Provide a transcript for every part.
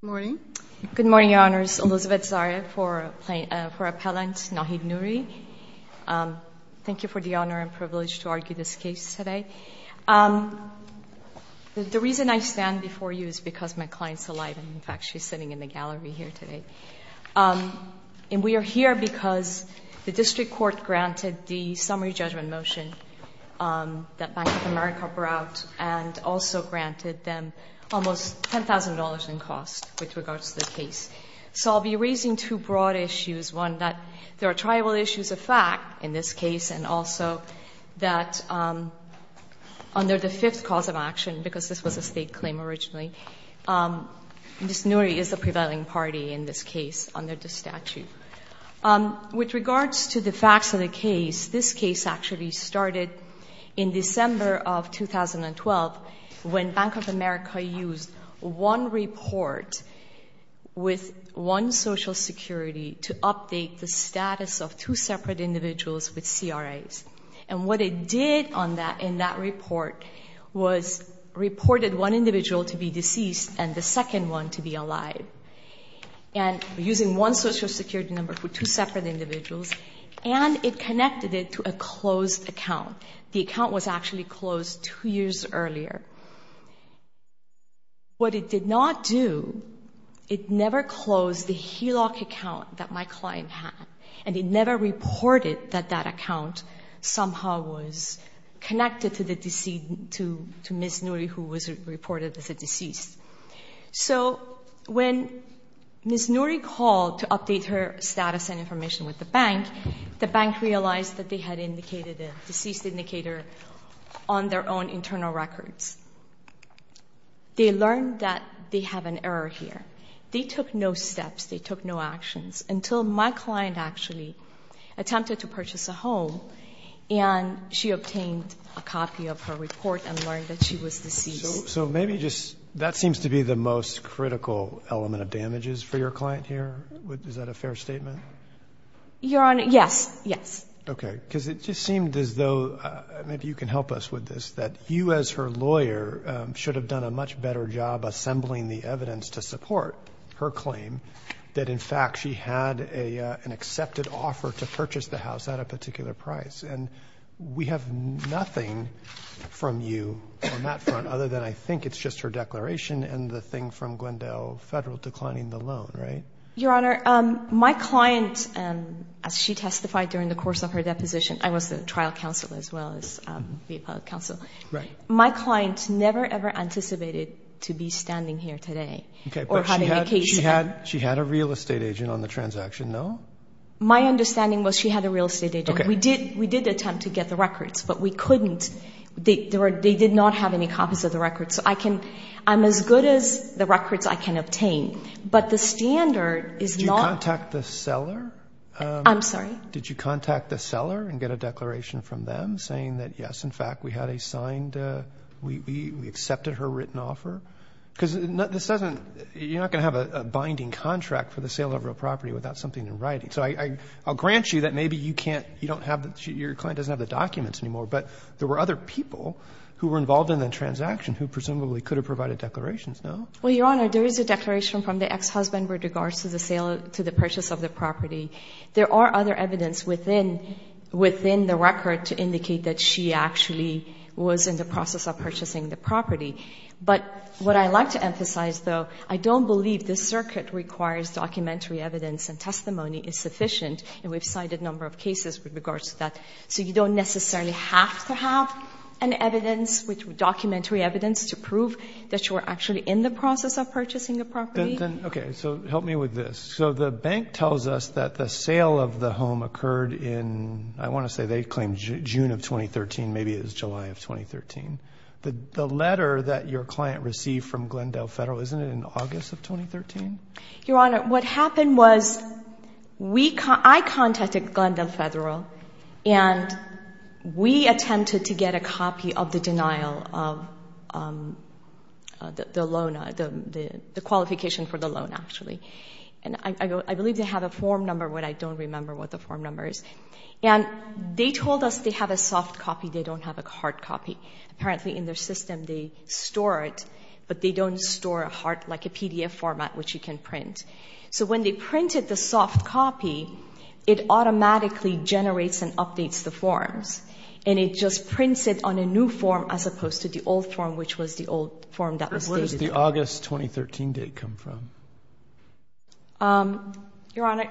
Good morning, Your Honors. Elizabeth Zaria for Appellant Nahid Noori. Thank you for the honor and privilege to argue this case today. The reason I stand before you is because my client is alive and in fact she is sitting in the gallery here today. We are here because the District Court granted the summary judgment motion that Bank of America brought and also granted them almost $10,000 in cost with regards to the case. So I'll be raising two broad issues. One, that there are tribal issues of fact in this case and also that under the fifth cause of action, because this was a State claim originally, Ms. Noori is the prevailing party in this case under the statute. With regards to the facts of the case, this case actually started in December of 2012 when Bank of America used one report with one Social Security to update the status of two separate individuals with CRAs. And what it did in that report was reported one individual to be deceased and the second one to be alive. And using one Social Security number for two separate individuals and it connected it to a closed account. The account was actually closed two years earlier. What it did not do, it never closed the HELOC account that my client had and it never reported that that account somehow was connected to Ms. Noori who was reported as a deceased. So when Ms. Noori called to update her status and information with the bank, the bank realized that they had indicated a deceased indicator on their own internal records. They learned that they have an error here. They took no steps. They took no actions until my client actually attempted to purchase a home and she obtained a copy of her report and learned that she was deceased. So maybe just that seems to be the most critical element of damages for your client here. Is that a fair statement? Your Honor, yes, yes. Okay. Because it just seemed as though maybe you can help us with this, that you as her lawyer should have done a much better job assembling the evidence to support her claim that in fact she had an accepted offer to purchase the house at a particular price. And we have nothing from you on that front other than I think it's just her declaration and the thing from Glendale Federal declining the loan, right? Your Honor, my client, as she testified during the course of her deposition, I was the trial counsel as well as the appellate counsel. My client never, ever anticipated to be standing here today or having a case. She had a real estate agent on the transaction, no? My understanding was she had a real estate agent. We did attempt to get the records, but we couldn't. They did not have any copies of the records. I'm as good as the records I can obtain, but the standard is not. Did you contact the seller? I'm sorry? Did you contact the seller and get a declaration from them saying that, yes, in fact, we had a signed, we accepted her written offer? Because this doesn't, you're not going to have a binding contract for the sale of a property without something in writing. So I'll grant you that maybe you can't, you don't have, your client doesn't have the documents anymore, but there were other people who were involved in the transaction who presumably could have provided declarations, no? Well, Your Honor, there is a declaration from the ex-husband with regards to the purchase of the property. There are other evidence within the record to indicate that she actually was in the process of purchasing the property. But what I'd like to emphasize, though, I don't believe this circuit requires documentary evidence and testimony is sufficient, and we've cited a number of cases with regards to that. So you don't necessarily have to have an evidence, documentary evidence to prove that you were actually in the process of purchasing the property. Okay. So help me with this. So the bank tells us that the sale of the home occurred in, I want to say they claim June of 2013, maybe it was July of 2013. The letter that your client received from Glendale Federal, isn't it in August of 2013? Your Honor, what happened was I contacted Glendale Federal, and we attempted to get a copy of the denial of the loan, the qualification for the loan, actually. And I believe they have a form number, but I don't remember what the form number is. And they told us they have a soft copy, they don't have a hard copy. Apparently in their system they store it, but they don't store a hard, like a PDF format, which you can print. So when they printed the soft copy, it automatically generates and updates the forms. And it just prints it on a new form as opposed to the old form, which was the old form that was dated. Where does the August 2013 date come from? Your Honor,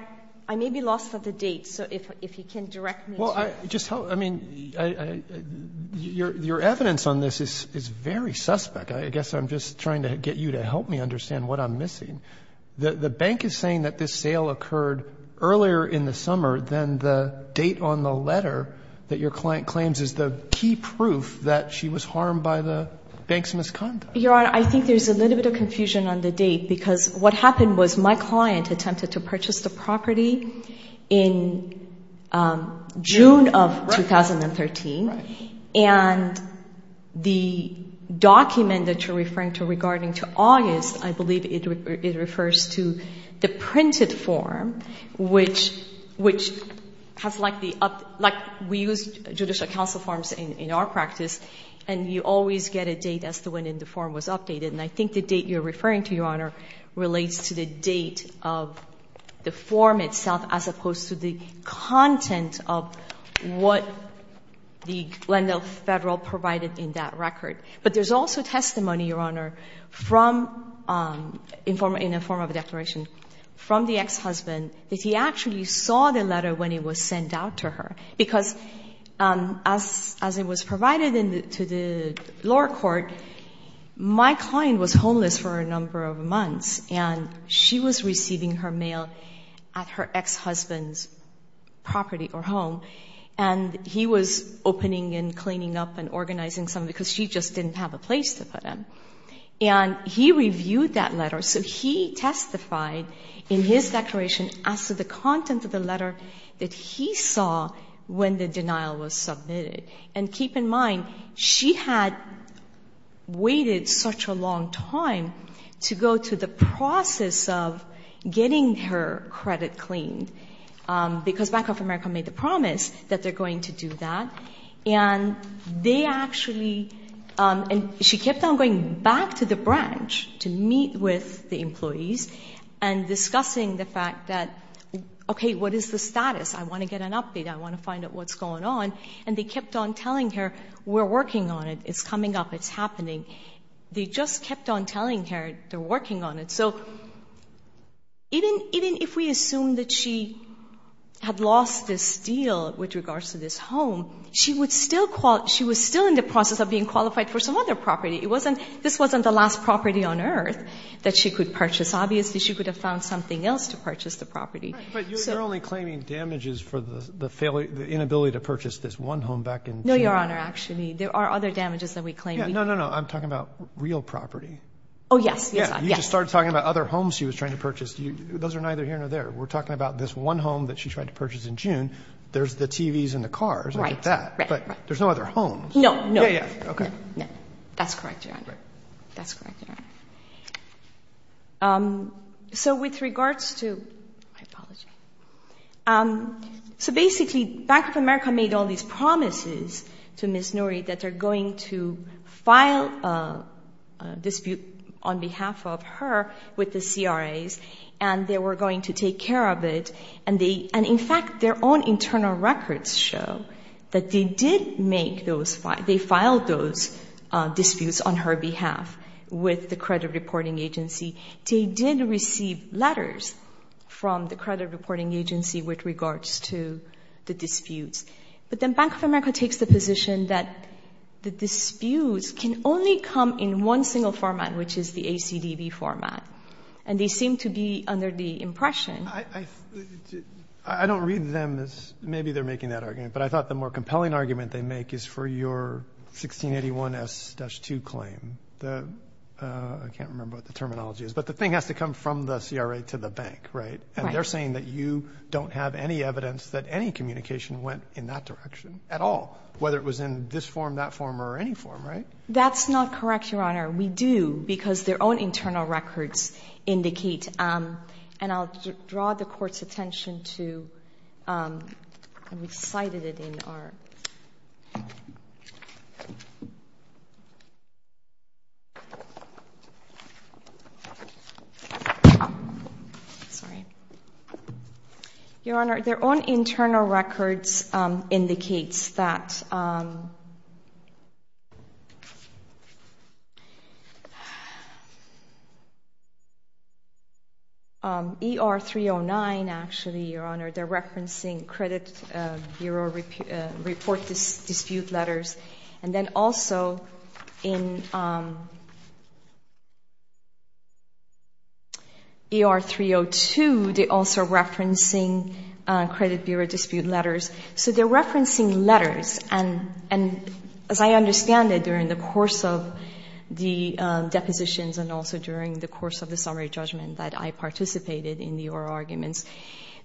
I may be lost on the date, so if you can direct me to it. Well, I just hope, I mean, your evidence on this is very suspect. I guess I'm just trying to get you to help me understand what I'm missing. The bank is saying that this sale occurred earlier in the summer than the date on the letter that your client claims is the key proof that she was harmed by the bank's misconduct. Your Honor, I think there's a little bit of confusion on the date, because what happened was my client attempted to purchase the property in June of 2013, and the document that you're referring to regarding to August, I believe it refers to the printed form, which has like the, like we use judicial counsel forms in our practice, and you always get a date as to when the form was updated. And I think the date you're referring to, your Honor, relates to the date of the form itself, as opposed to the content of what the Glendale Federal provided in that record. But there's also testimony, your Honor, from, in a form of a declaration from the ex-husband, that he actually saw the letter when it was sent out to her. Because as it was provided to the lower court, my client was homeless for a number of months, and she was receiving her mail at her ex-husband's property or home, and he was opening and cleaning up and organizing something because she just didn't have a place to put them. And he reviewed that letter. So he testified in his declaration as to the content of the letter that he saw when the denial was submitted. And keep in mind, she had waited such a long time to go to the process of getting her credit cleaned, because Bank of America made the promise that they're going to do that. And they actually, and she kept on going back to the branch to meet with the employees and discussing the fact that, okay, what is the status? I want to get an update. I want to find out what's going on. And they kept on telling her, we're working on it. It's coming up. It's happening. They just kept on telling her they're working on it. So even if we assume that she had lost this deal with regards to this home, she was still in the process of being qualified for some other property. This wasn't the last property on earth that she could purchase. Obviously, she could have found something else to purchase the property. But you're only claiming damages for the inability to purchase this one home back in Juneau. No, Your Honor, actually. There are other damages that we claim. No, no, no. I'm talking about real property. Oh, yes. You just started talking about other homes she was trying to purchase. Those are neither here nor there. We're talking about this one home that she tried to purchase in June. There's the TVs and the cars. I get that. Right, right, right. But there's no other homes. No, no. Yeah, yeah. Okay. That's correct, Your Honor. That's correct, Your Honor. So with regards to – I apologize. So basically, Bank of America made all these promises to Ms. Nouri that they're going to file a dispute on behalf of her with the CRAs, and they were going to take care of it. And in fact, their own internal records show that they did make those – they filed those disputes on her behalf with the credit reporting agency. They did receive letters from the credit reporting agency with regards to the disputes. But then Bank of America takes the position that the disputes can only come in one single format, which is the ACDB format, and they seem to be under the impression. I don't read them as – maybe they're making that argument, but I thought the more compelling argument they make is for your 1681S-2 claim. I can't remember what the terminology is, but the thing has to come from the CRA to the bank, right? Right. And they're saying that you don't have any evidence that any communication went in that direction at all, whether it was in this form, that form, or any form, right? That's not correct, Your Honor. We do, because their own internal records indicate – and I'll draw the Court's attention to – and we've cited it in our – Sorry. Your Honor, their own internal records indicates that – ER-309, actually, Your Honor, they're referencing credit bureau report dispute letters. And then also in ER-302, they're also referencing credit bureau dispute letters. So they're referencing letters, and as I understand it, during the course of the depositions and also during the course of the summary judgment that I participated in the oral arguments,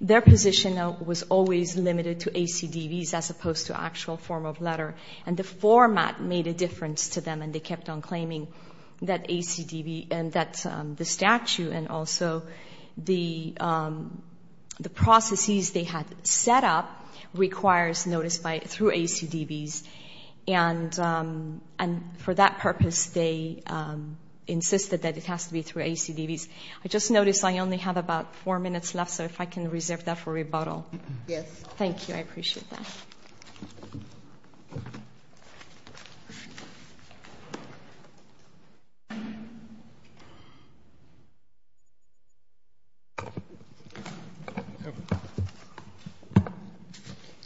their position was always limited to ACDBs as opposed to actual form of letter. And the format made a difference to them, and they kept on claiming that the statute and also the processes they had set up requires notice through ACDBs. And for that purpose, they insisted that it has to be through ACDBs. I just noticed I only have about four minutes left, so if I can reserve that for rebuttal. Yes. Thank you. I appreciate that. Thank you.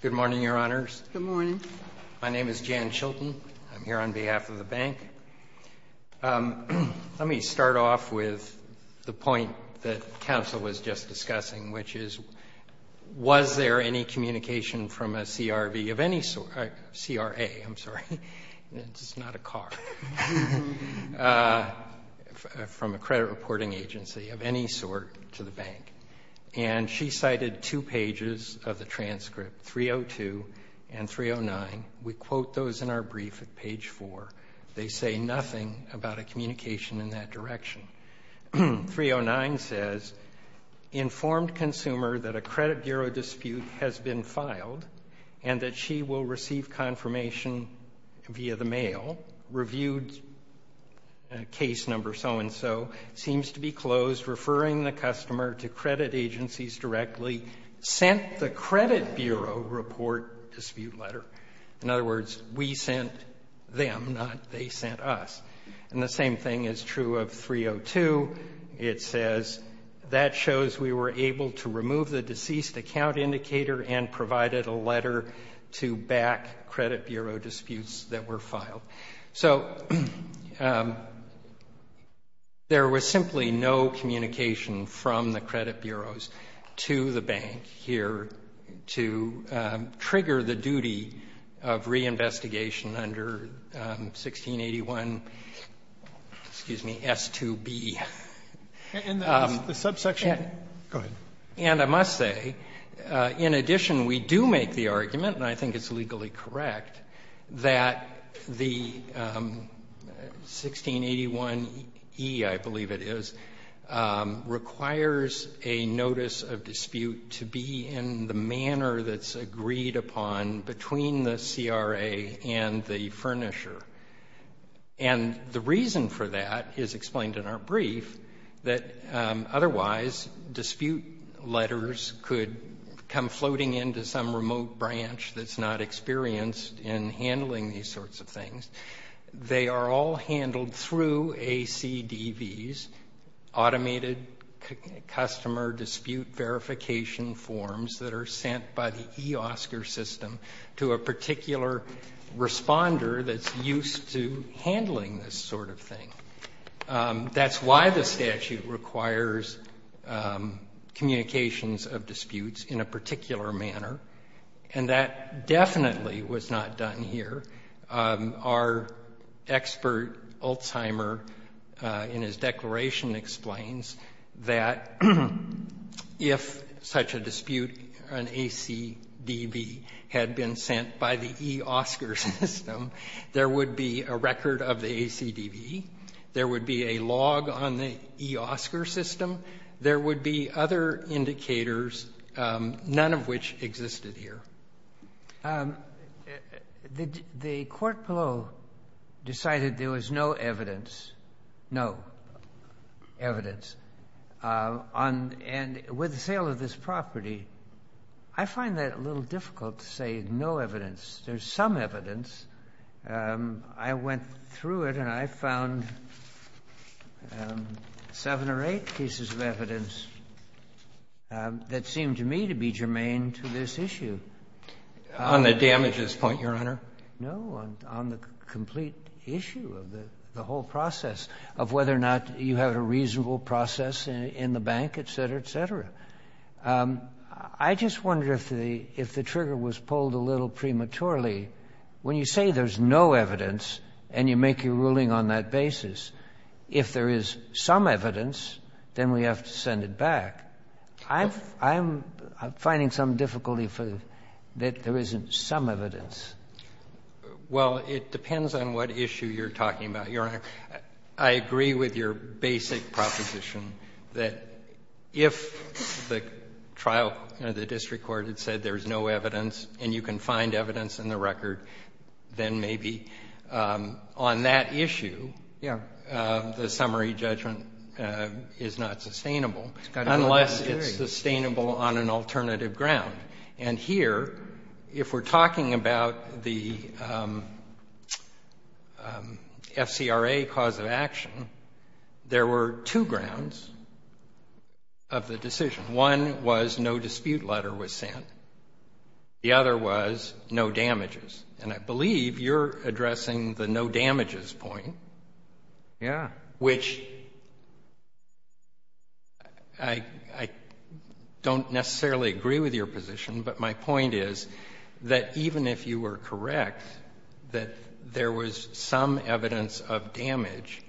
Good morning, Your Honors. Good morning. My name is Jan Chilton. I'm here on behalf of the Bank. Let me start off with the point that counsel was just discussing, which is, was there any communication from a CRV of any sort? CRA, I'm sorry. It's not a car. From a credit reporting agency of any sort to the Bank. And she cited two pages of the transcript, 302 and 309. We quote those in our brief at page four. They say nothing about a communication in that direction. 309 says, Informed consumer that a credit bureau dispute has been filed and that she will receive confirmation via the mail. Reviewed case number so and so. Seems to be closed. Referring the customer to credit agencies directly. Sent the credit bureau report dispute letter. In other words, we sent them, not they sent us. And the same thing is true of 302. It says, That shows we were able to remove the deceased account indicator and provided a letter to back credit bureau disputes that were filed. So there was simply no communication from the credit bureaus to the Bank here to trigger the duty of reinvestigation under 1681, excuse me, S2B. And I must say, in addition, we do make the argument, and I think it's legally correct, that the 1681e, I believe it is, requires a notice of dispute to be in the manner that's agreed upon between the CRA and the furnisher. And the reason for that is explained in our brief, that otherwise dispute letters could come floating into some remote branch that's not experienced in handling these sorts of things. They are all handled through ACDVs, automated customer dispute verification forms that are sent by the eOSCAR system to a particular responder that's used to handling this sort of thing. That's why the statute requires communications of disputes in a particular manner, and that definitely was not done here. Our expert, Alzheimer, in his declaration explains that if such a dispute on ACDB had been sent by the eOSCAR system, there would be a record of the ACDB, there would be a log on the eOSCAR system, there would be other indicators, none of which existed here. The court below decided there was no evidence, no evidence. And with the sale of this property, I find that a little difficult to say no evidence. There's some evidence. I went through it and I found seven or eight pieces of evidence that seemed to me to be germane to this issue. On the damages point, Your Honor? No, on the complete issue of the whole process, of whether or not you have a reasonable process in the bank, et cetera, et cetera. I just wonder if the trigger was pulled a little prematurely. When you say there's no evidence and you make your ruling on that basis, if there is some evidence, then we have to send it back. I'm finding some difficulty that there isn't some evidence. Well, it depends on what issue you're talking about, Your Honor. I agree with your basic proposition that if the trial or the district court had said there's no evidence and you can find evidence in the record, then maybe on that issue the summary judgment is not sustainable, unless it's sustainable on an alternative ground. And here, if we're talking about the FCRA cause of action, there were two grounds of the decision. One was no dispute letter was sent. The other was no damages. And I believe you're addressing the no damages point. Yeah. Which I don't necessarily agree with your position, but my point is that even if you were correct that there was some evidence of damage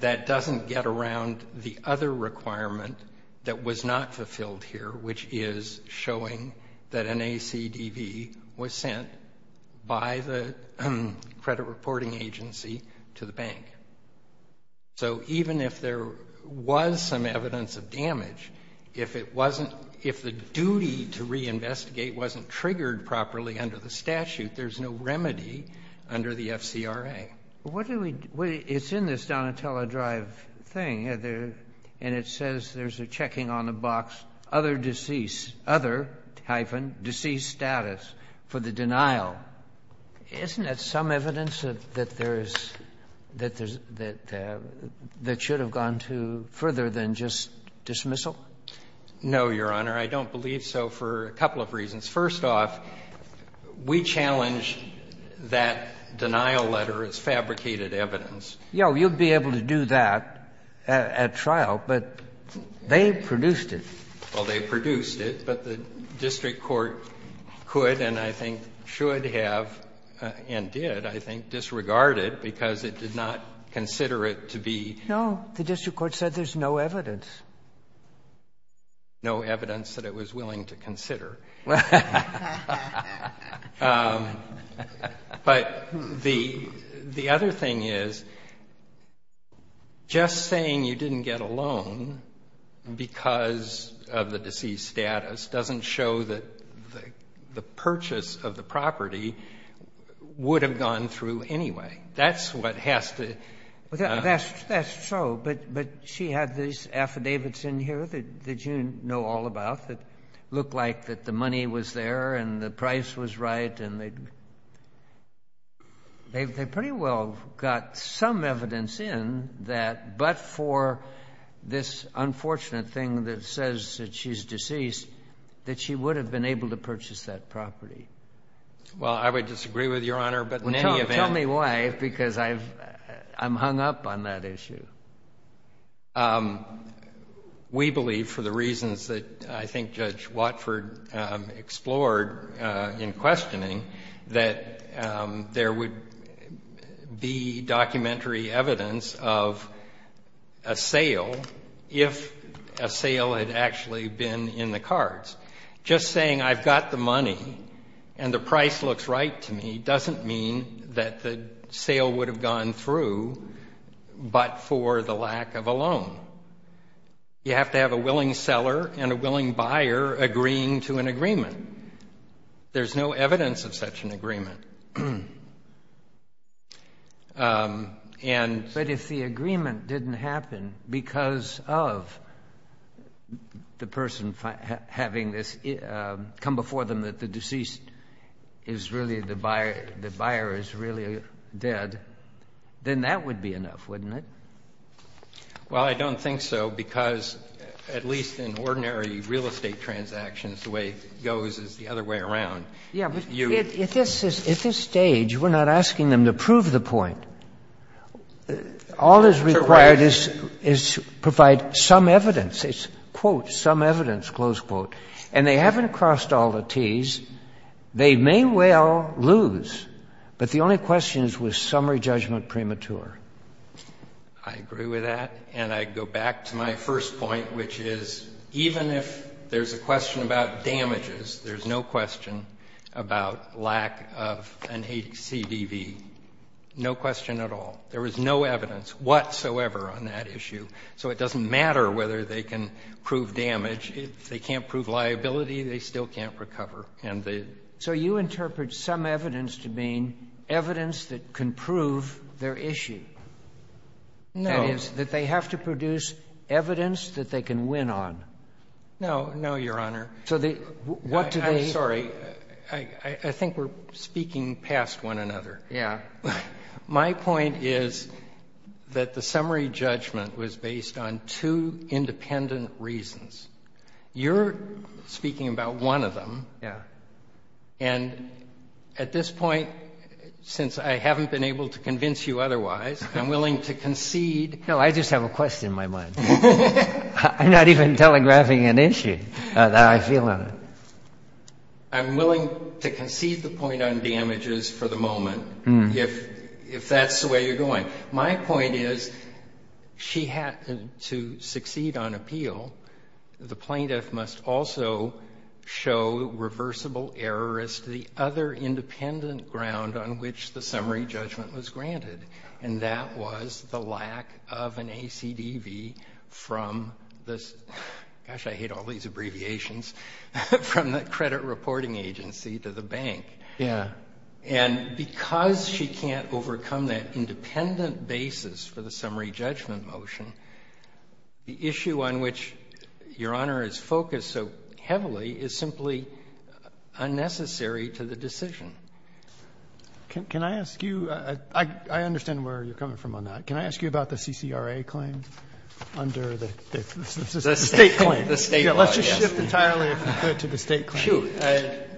that doesn't get around the other requirement that was not fulfilled here, which is showing that an ACDV was sent by the credit reporting agency to the bank. So even if there was some evidence of damage, if the duty to reinvestigate wasn't triggered properly under the statute, there's no remedy under the FCRA. It's in this Donatella Drive thing, and it says there's a checking on the box, other deceased, other hyphen, deceased status for the denial. Isn't that some evidence that there is, that there's, that should have gone to further than just dismissal? No, Your Honor. I don't believe so for a couple of reasons. First off, we challenge that denial letter as fabricated evidence. You know, you'd be able to do that at trial, but they produced it. Well, they produced it, but the district court could and I think should have and did, I think, disregard it because it did not consider it to be. No. The district court said there's no evidence. No evidence that it was willing to consider. But the other thing is, just saying you didn't get a loan because of the deceased status doesn't show that the purchase of the property would have gone through anyway. That's what has to. That's true, but she had these affidavits in here that you know all about that look like that the money was there and the price was right and they pretty well got some evidence in that, but for this unfortunate thing that says that she's deceased, that she would have been able to purchase that property. Well, I would disagree with Your Honor, but in any event. Tell me why, because I'm hung up on that issue. We believe, for the reasons that I think Judge Watford explored in questioning, that there would be documentary evidence of a sale if a sale had actually been in the cards. Just saying I've got the money and the price looks right to me doesn't mean that the You have to have a willing seller and a willing buyer agreeing to an agreement. There's no evidence of such an agreement. But if the agreement didn't happen because of the person having this come before them that the buyer is really dead, then that would be enough, wouldn't it? Well, I don't think so, because at least in ordinary real estate transactions, the way it goes is the other way around. Yeah, but at this stage, we're not asking them to prove the point. All that's required is to provide some evidence. It's, quote, some evidence, close quote. And they haven't crossed all the Ts. They may well lose, but the only question is, was summary judgment premature? I agree with that. And I go back to my first point, which is even if there's a question about damages, there's no question about lack of an HCBV, no question at all. There was no evidence whatsoever on that issue. So it doesn't matter whether they can prove damage. If they can't prove liability, they still can't recover. So you interpret some evidence to mean evidence that can prove their issue. No. That is, that they have to produce evidence that they can win on. No. No, Your Honor. So what do they need? I'm sorry. I think we're speaking past one another. Yeah. My point is that the summary judgment was based on two independent reasons. You're speaking about one of them. Yeah. And at this point, since I haven't been able to convince you otherwise, I'm willing to concede. No, I just have a question in my mind. I'm not even telegraphing an issue that I feel in it. I'm willing to concede the point on damages for the moment if that's the way you're going. My point is she had to succeed on appeal. The plaintiff must also show reversible error as to the other independent ground on which the summary judgment was granted, and that was the lack of an ACDV from this ---- gosh, I hate all these abbreviations ---- from the credit reporting agency to the bank. Yeah. And because she can't overcome that independent basis for the summary judgment motion, the issue on which Your Honor is focused so heavily is simply unnecessary to the decision. Can I ask you? I understand where you're coming from on that. Can I ask you about the CCRA claim under the State claim? The State claim, yes. Let's just shift entirely, if you could, to the State claim. Shoot.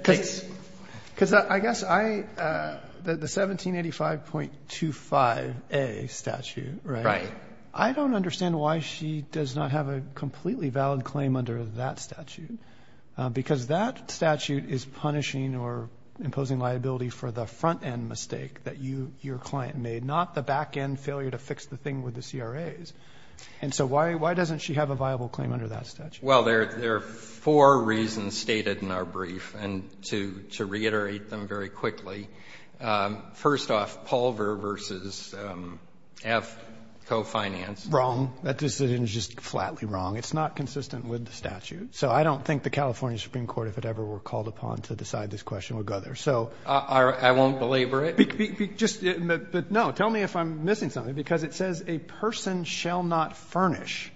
Because I guess I ---- the 1785.25a statute, right? Right. I don't understand why she does not have a completely valid claim under that statute, because that statute is punishing or imposing liability for the front-end mistake that you, your client made, not the back-end failure to fix the thing with the CRAs. And so why doesn't she have a viable claim under that statute? Well, there are four reasons stated in our brief. And to reiterate them very quickly, first off, Paul versus F, co-financed. Wrong. That decision is just flatly wrong. It's not consistent with the statute. So I don't think the California Supreme Court, if it ever were called upon, to decide this question would go there. So ---- I won't belabor it. But no, tell me if I'm missing something, because it says a person shall not furnish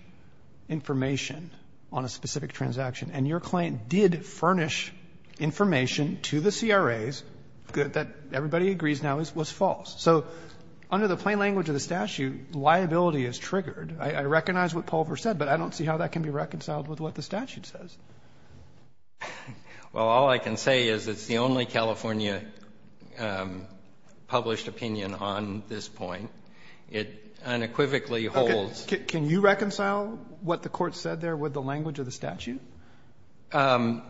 information on a specific transaction. And your client did furnish information to the CRAs that everybody agrees now was false. So under the plain language of the statute, liability is triggered. I recognize what Paul versus F said, but I don't see how that can be reconciled with what the statute says. Well, all I can say is it's the only California published opinion on this point. It unequivocally holds. Okay. Can you reconcile what the Court said there with the language of the statute? I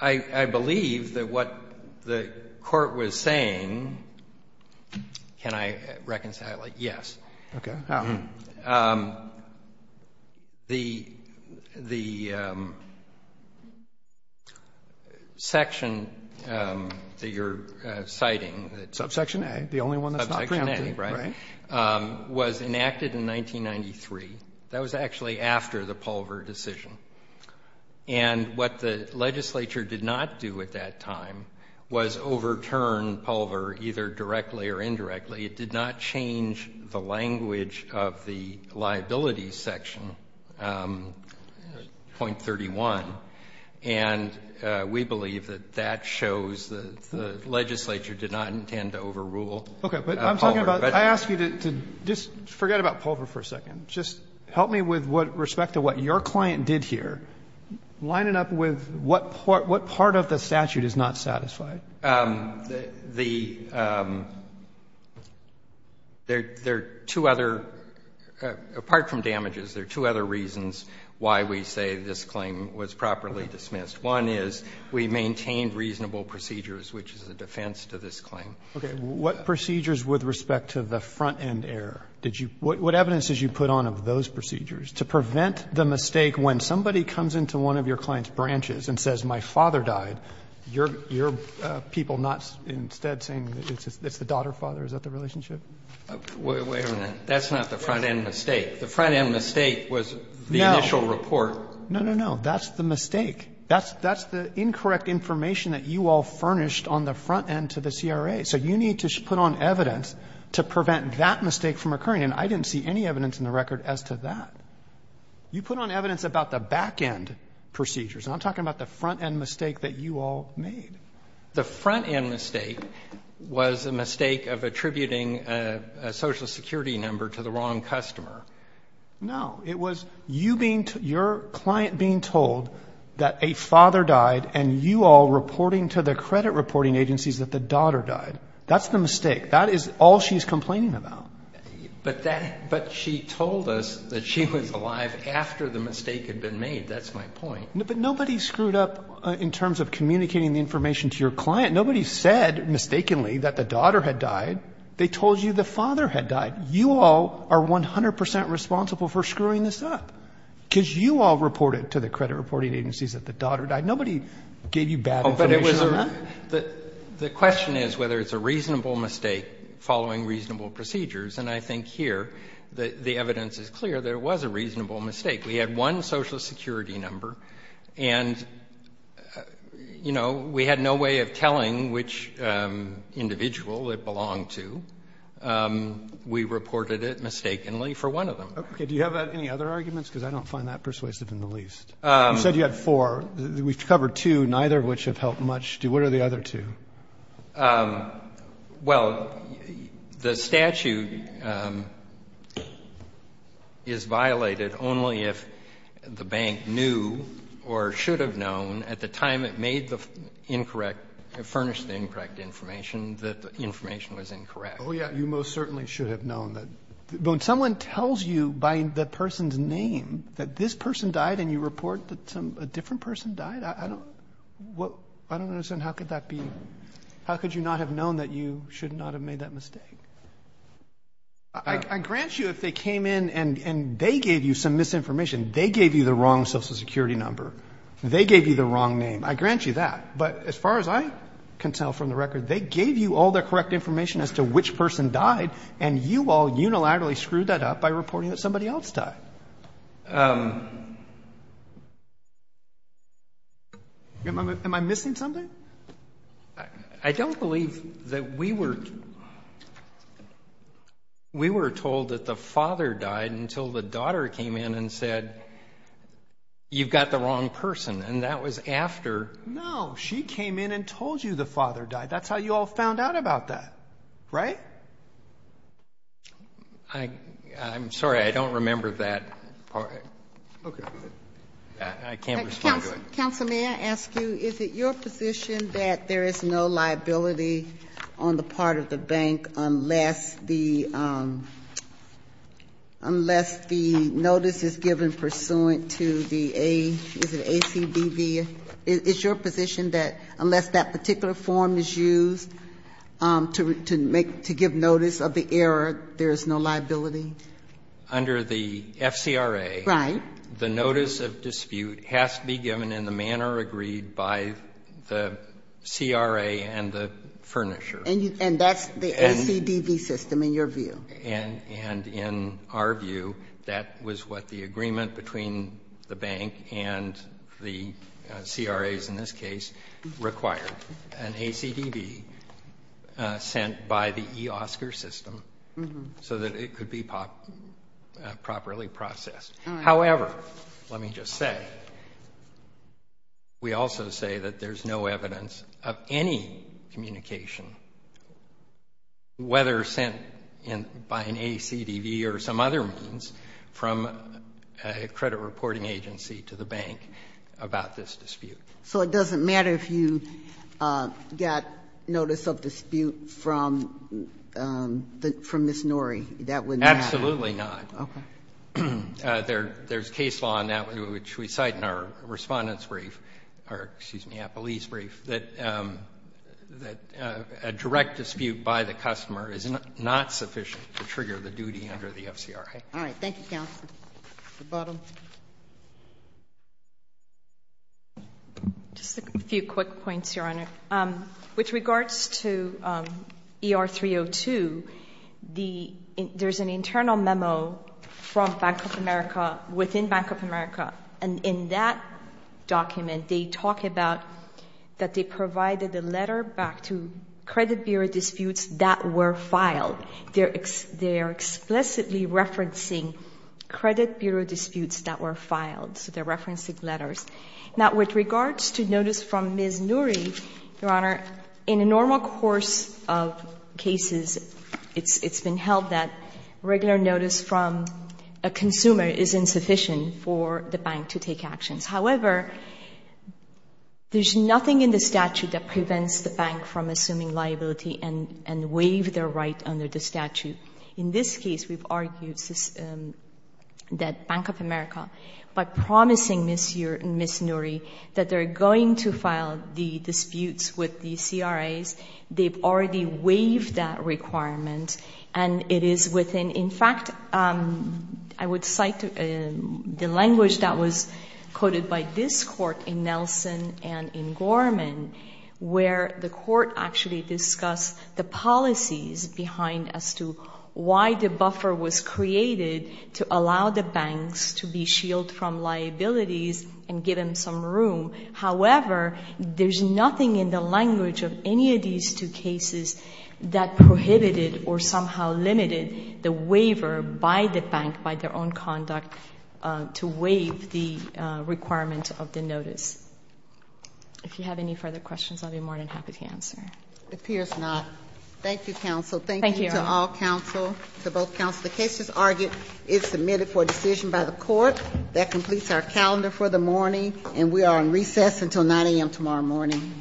believe that what the Court was saying, can I reconcile it? Yes. Okay. The section that you're citing. Subsection A. The only one that's not preempted. Subsection A, right, was enacted in 1993. That was actually after the Pulver decision. And what the legislature did not do at that time was overturn Pulver either directly or indirectly. It did not change the language of the liabilities section, point 31. And we believe that that shows the legislature did not intend to overrule Pulver. Okay. But I'm talking about, I ask you to just forget about Pulver for a second. Just help me with respect to what your client did here. Line it up with what part of the statute is not satisfied. There are two other, apart from damages, there are two other reasons why we say this is improperly dismissed. One is we maintained reasonable procedures, which is a defense to this claim. Okay. What procedures with respect to the front-end error? What evidence did you put on of those procedures? To prevent the mistake when somebody comes into one of your client's branches and says my father died, you're people not instead saying it's the daughter-father? Is that the relationship? Wait a minute. That's not the front-end mistake. The front-end mistake was the initial report. No, no, no. That's the mistake. That's the incorrect information that you all furnished on the front-end to the CRA. So you need to put on evidence to prevent that mistake from occurring. And I didn't see any evidence in the record as to that. You put on evidence about the back-end procedures. And I'm talking about the front-end mistake that you all made. The front-end mistake was a mistake of attributing a Social Security number to the wrong customer. No. It was you being, your client being told that a father died and you all reporting to the credit reporting agencies that the daughter died. That's the mistake. That is all she's complaining about. But that, but she told us that she was alive after the mistake had been made. That's my point. But nobody screwed up in terms of communicating the information to your client. Nobody said mistakenly that the daughter had died. They told you the father had died. You all are 100 percent responsible for screwing this up. Because you all reported to the credit reporting agencies that the daughter died. Nobody gave you bad information. The question is whether it's a reasonable mistake following reasonable procedures. And I think here the evidence is clear that it was a reasonable mistake. We had one Social Security number. And, you know, we had no way of telling which individual it belonged to. We reported it mistakenly for one of them. Okay. Do you have any other arguments? Because I don't find that persuasive in the least. You said you had four. We've covered two, neither of which have helped much. What are the other two? Well, the statute is violated only if the bank knew or should have known at the time it made the incorrect, furnished the incorrect information that the information was incorrect. Oh, yeah, you most certainly should have known that. But when someone tells you by the person's name that this person died and you report that a different person died, I don't understand how could that be? How could you not have known that you should not have made that mistake? I grant you if they came in and they gave you some misinformation, they gave you the wrong Social Security number. They gave you the wrong name. I grant you that. But as far as I can tell from the record, they gave you all the correct information as to which person died, and you all unilaterally screwed that up by reporting that somebody else died. Am I missing something? I don't believe that we were told that the father died until the daughter came in and said, you've got the wrong person. And that was after. No, she came in and told you the father died. That's how you all found out about that, right? I'm sorry. I don't remember that part. Okay. I can't respond to it. Counsel, may I ask you, is it your position that there is no liability on the part of the bank unless the notice is given pursuant to the ACBD? Is it your position that unless that particular form is used to give notice of the error, there is no liability? Under the FCRA, the notice of dispute has to be given in the manner agreed by the CRA and the furnisher. And that's the ACDB system, in your view. And in our view, that was what the agreement between the bank and the CRAs in this case required, an ACDB sent by the eOSCAR system so that it could be properly processed. However, let me just say, we also say that there's no evidence of any communication, whether sent by an ACDB or some other means, from a credit reporting agency to the bank about this dispute. So it doesn't matter if you got notice of dispute from Ms. Norrie? That wouldn't matter? Absolutely not. Okay. There's case law in that, which we cite in our Respondent's brief, or, excuse me, Appellee's brief, that a direct dispute by the customer is not sufficient to trigger the duty under the FCRA. All right. Thank you, Counsel. The bottom. Just a few quick points, Your Honor. With regards to ER-302, there's an internal memo from Bank of America, within Bank of America. And in that document, they talk about that they provided a letter back to credit bureau disputes that were filed. They're explicitly referencing credit bureau disputes that were filed. So they're referencing letters. Now, with regards to notice from Ms. Norrie, Your Honor, in a normal course of cases, it's been held that regular notice from a consumer is insufficient for the bank to take actions. However, there's nothing in the statute that prevents the bank from assuming liability and waive their right under the statute. In this case, we've argued that Bank of America, by promising Ms. Norrie that they're going to file the disputes with the CRAs, they've already waived that requirement. And it is within, in fact, I would cite the language that was quoted by this court in Nelson and in Gorman, where the court actually discussed the policies behind as to why the buffer was created to allow the banks to be shielded from liabilities and give them some room. However, there's nothing in the language of any of these two cases that prohibited or somehow limited the waiver by the bank, by their own conduct, to waive the requirement of the notice. If you have any further questions, I'll be more than happy to answer. It appears not. Thank you, counsel. Thank you to all counsel, to both counsel. The case, as argued, is submitted for decision by the court. That completes our calendar for the morning. And we are on recess until 9 a.m. tomorrow morning.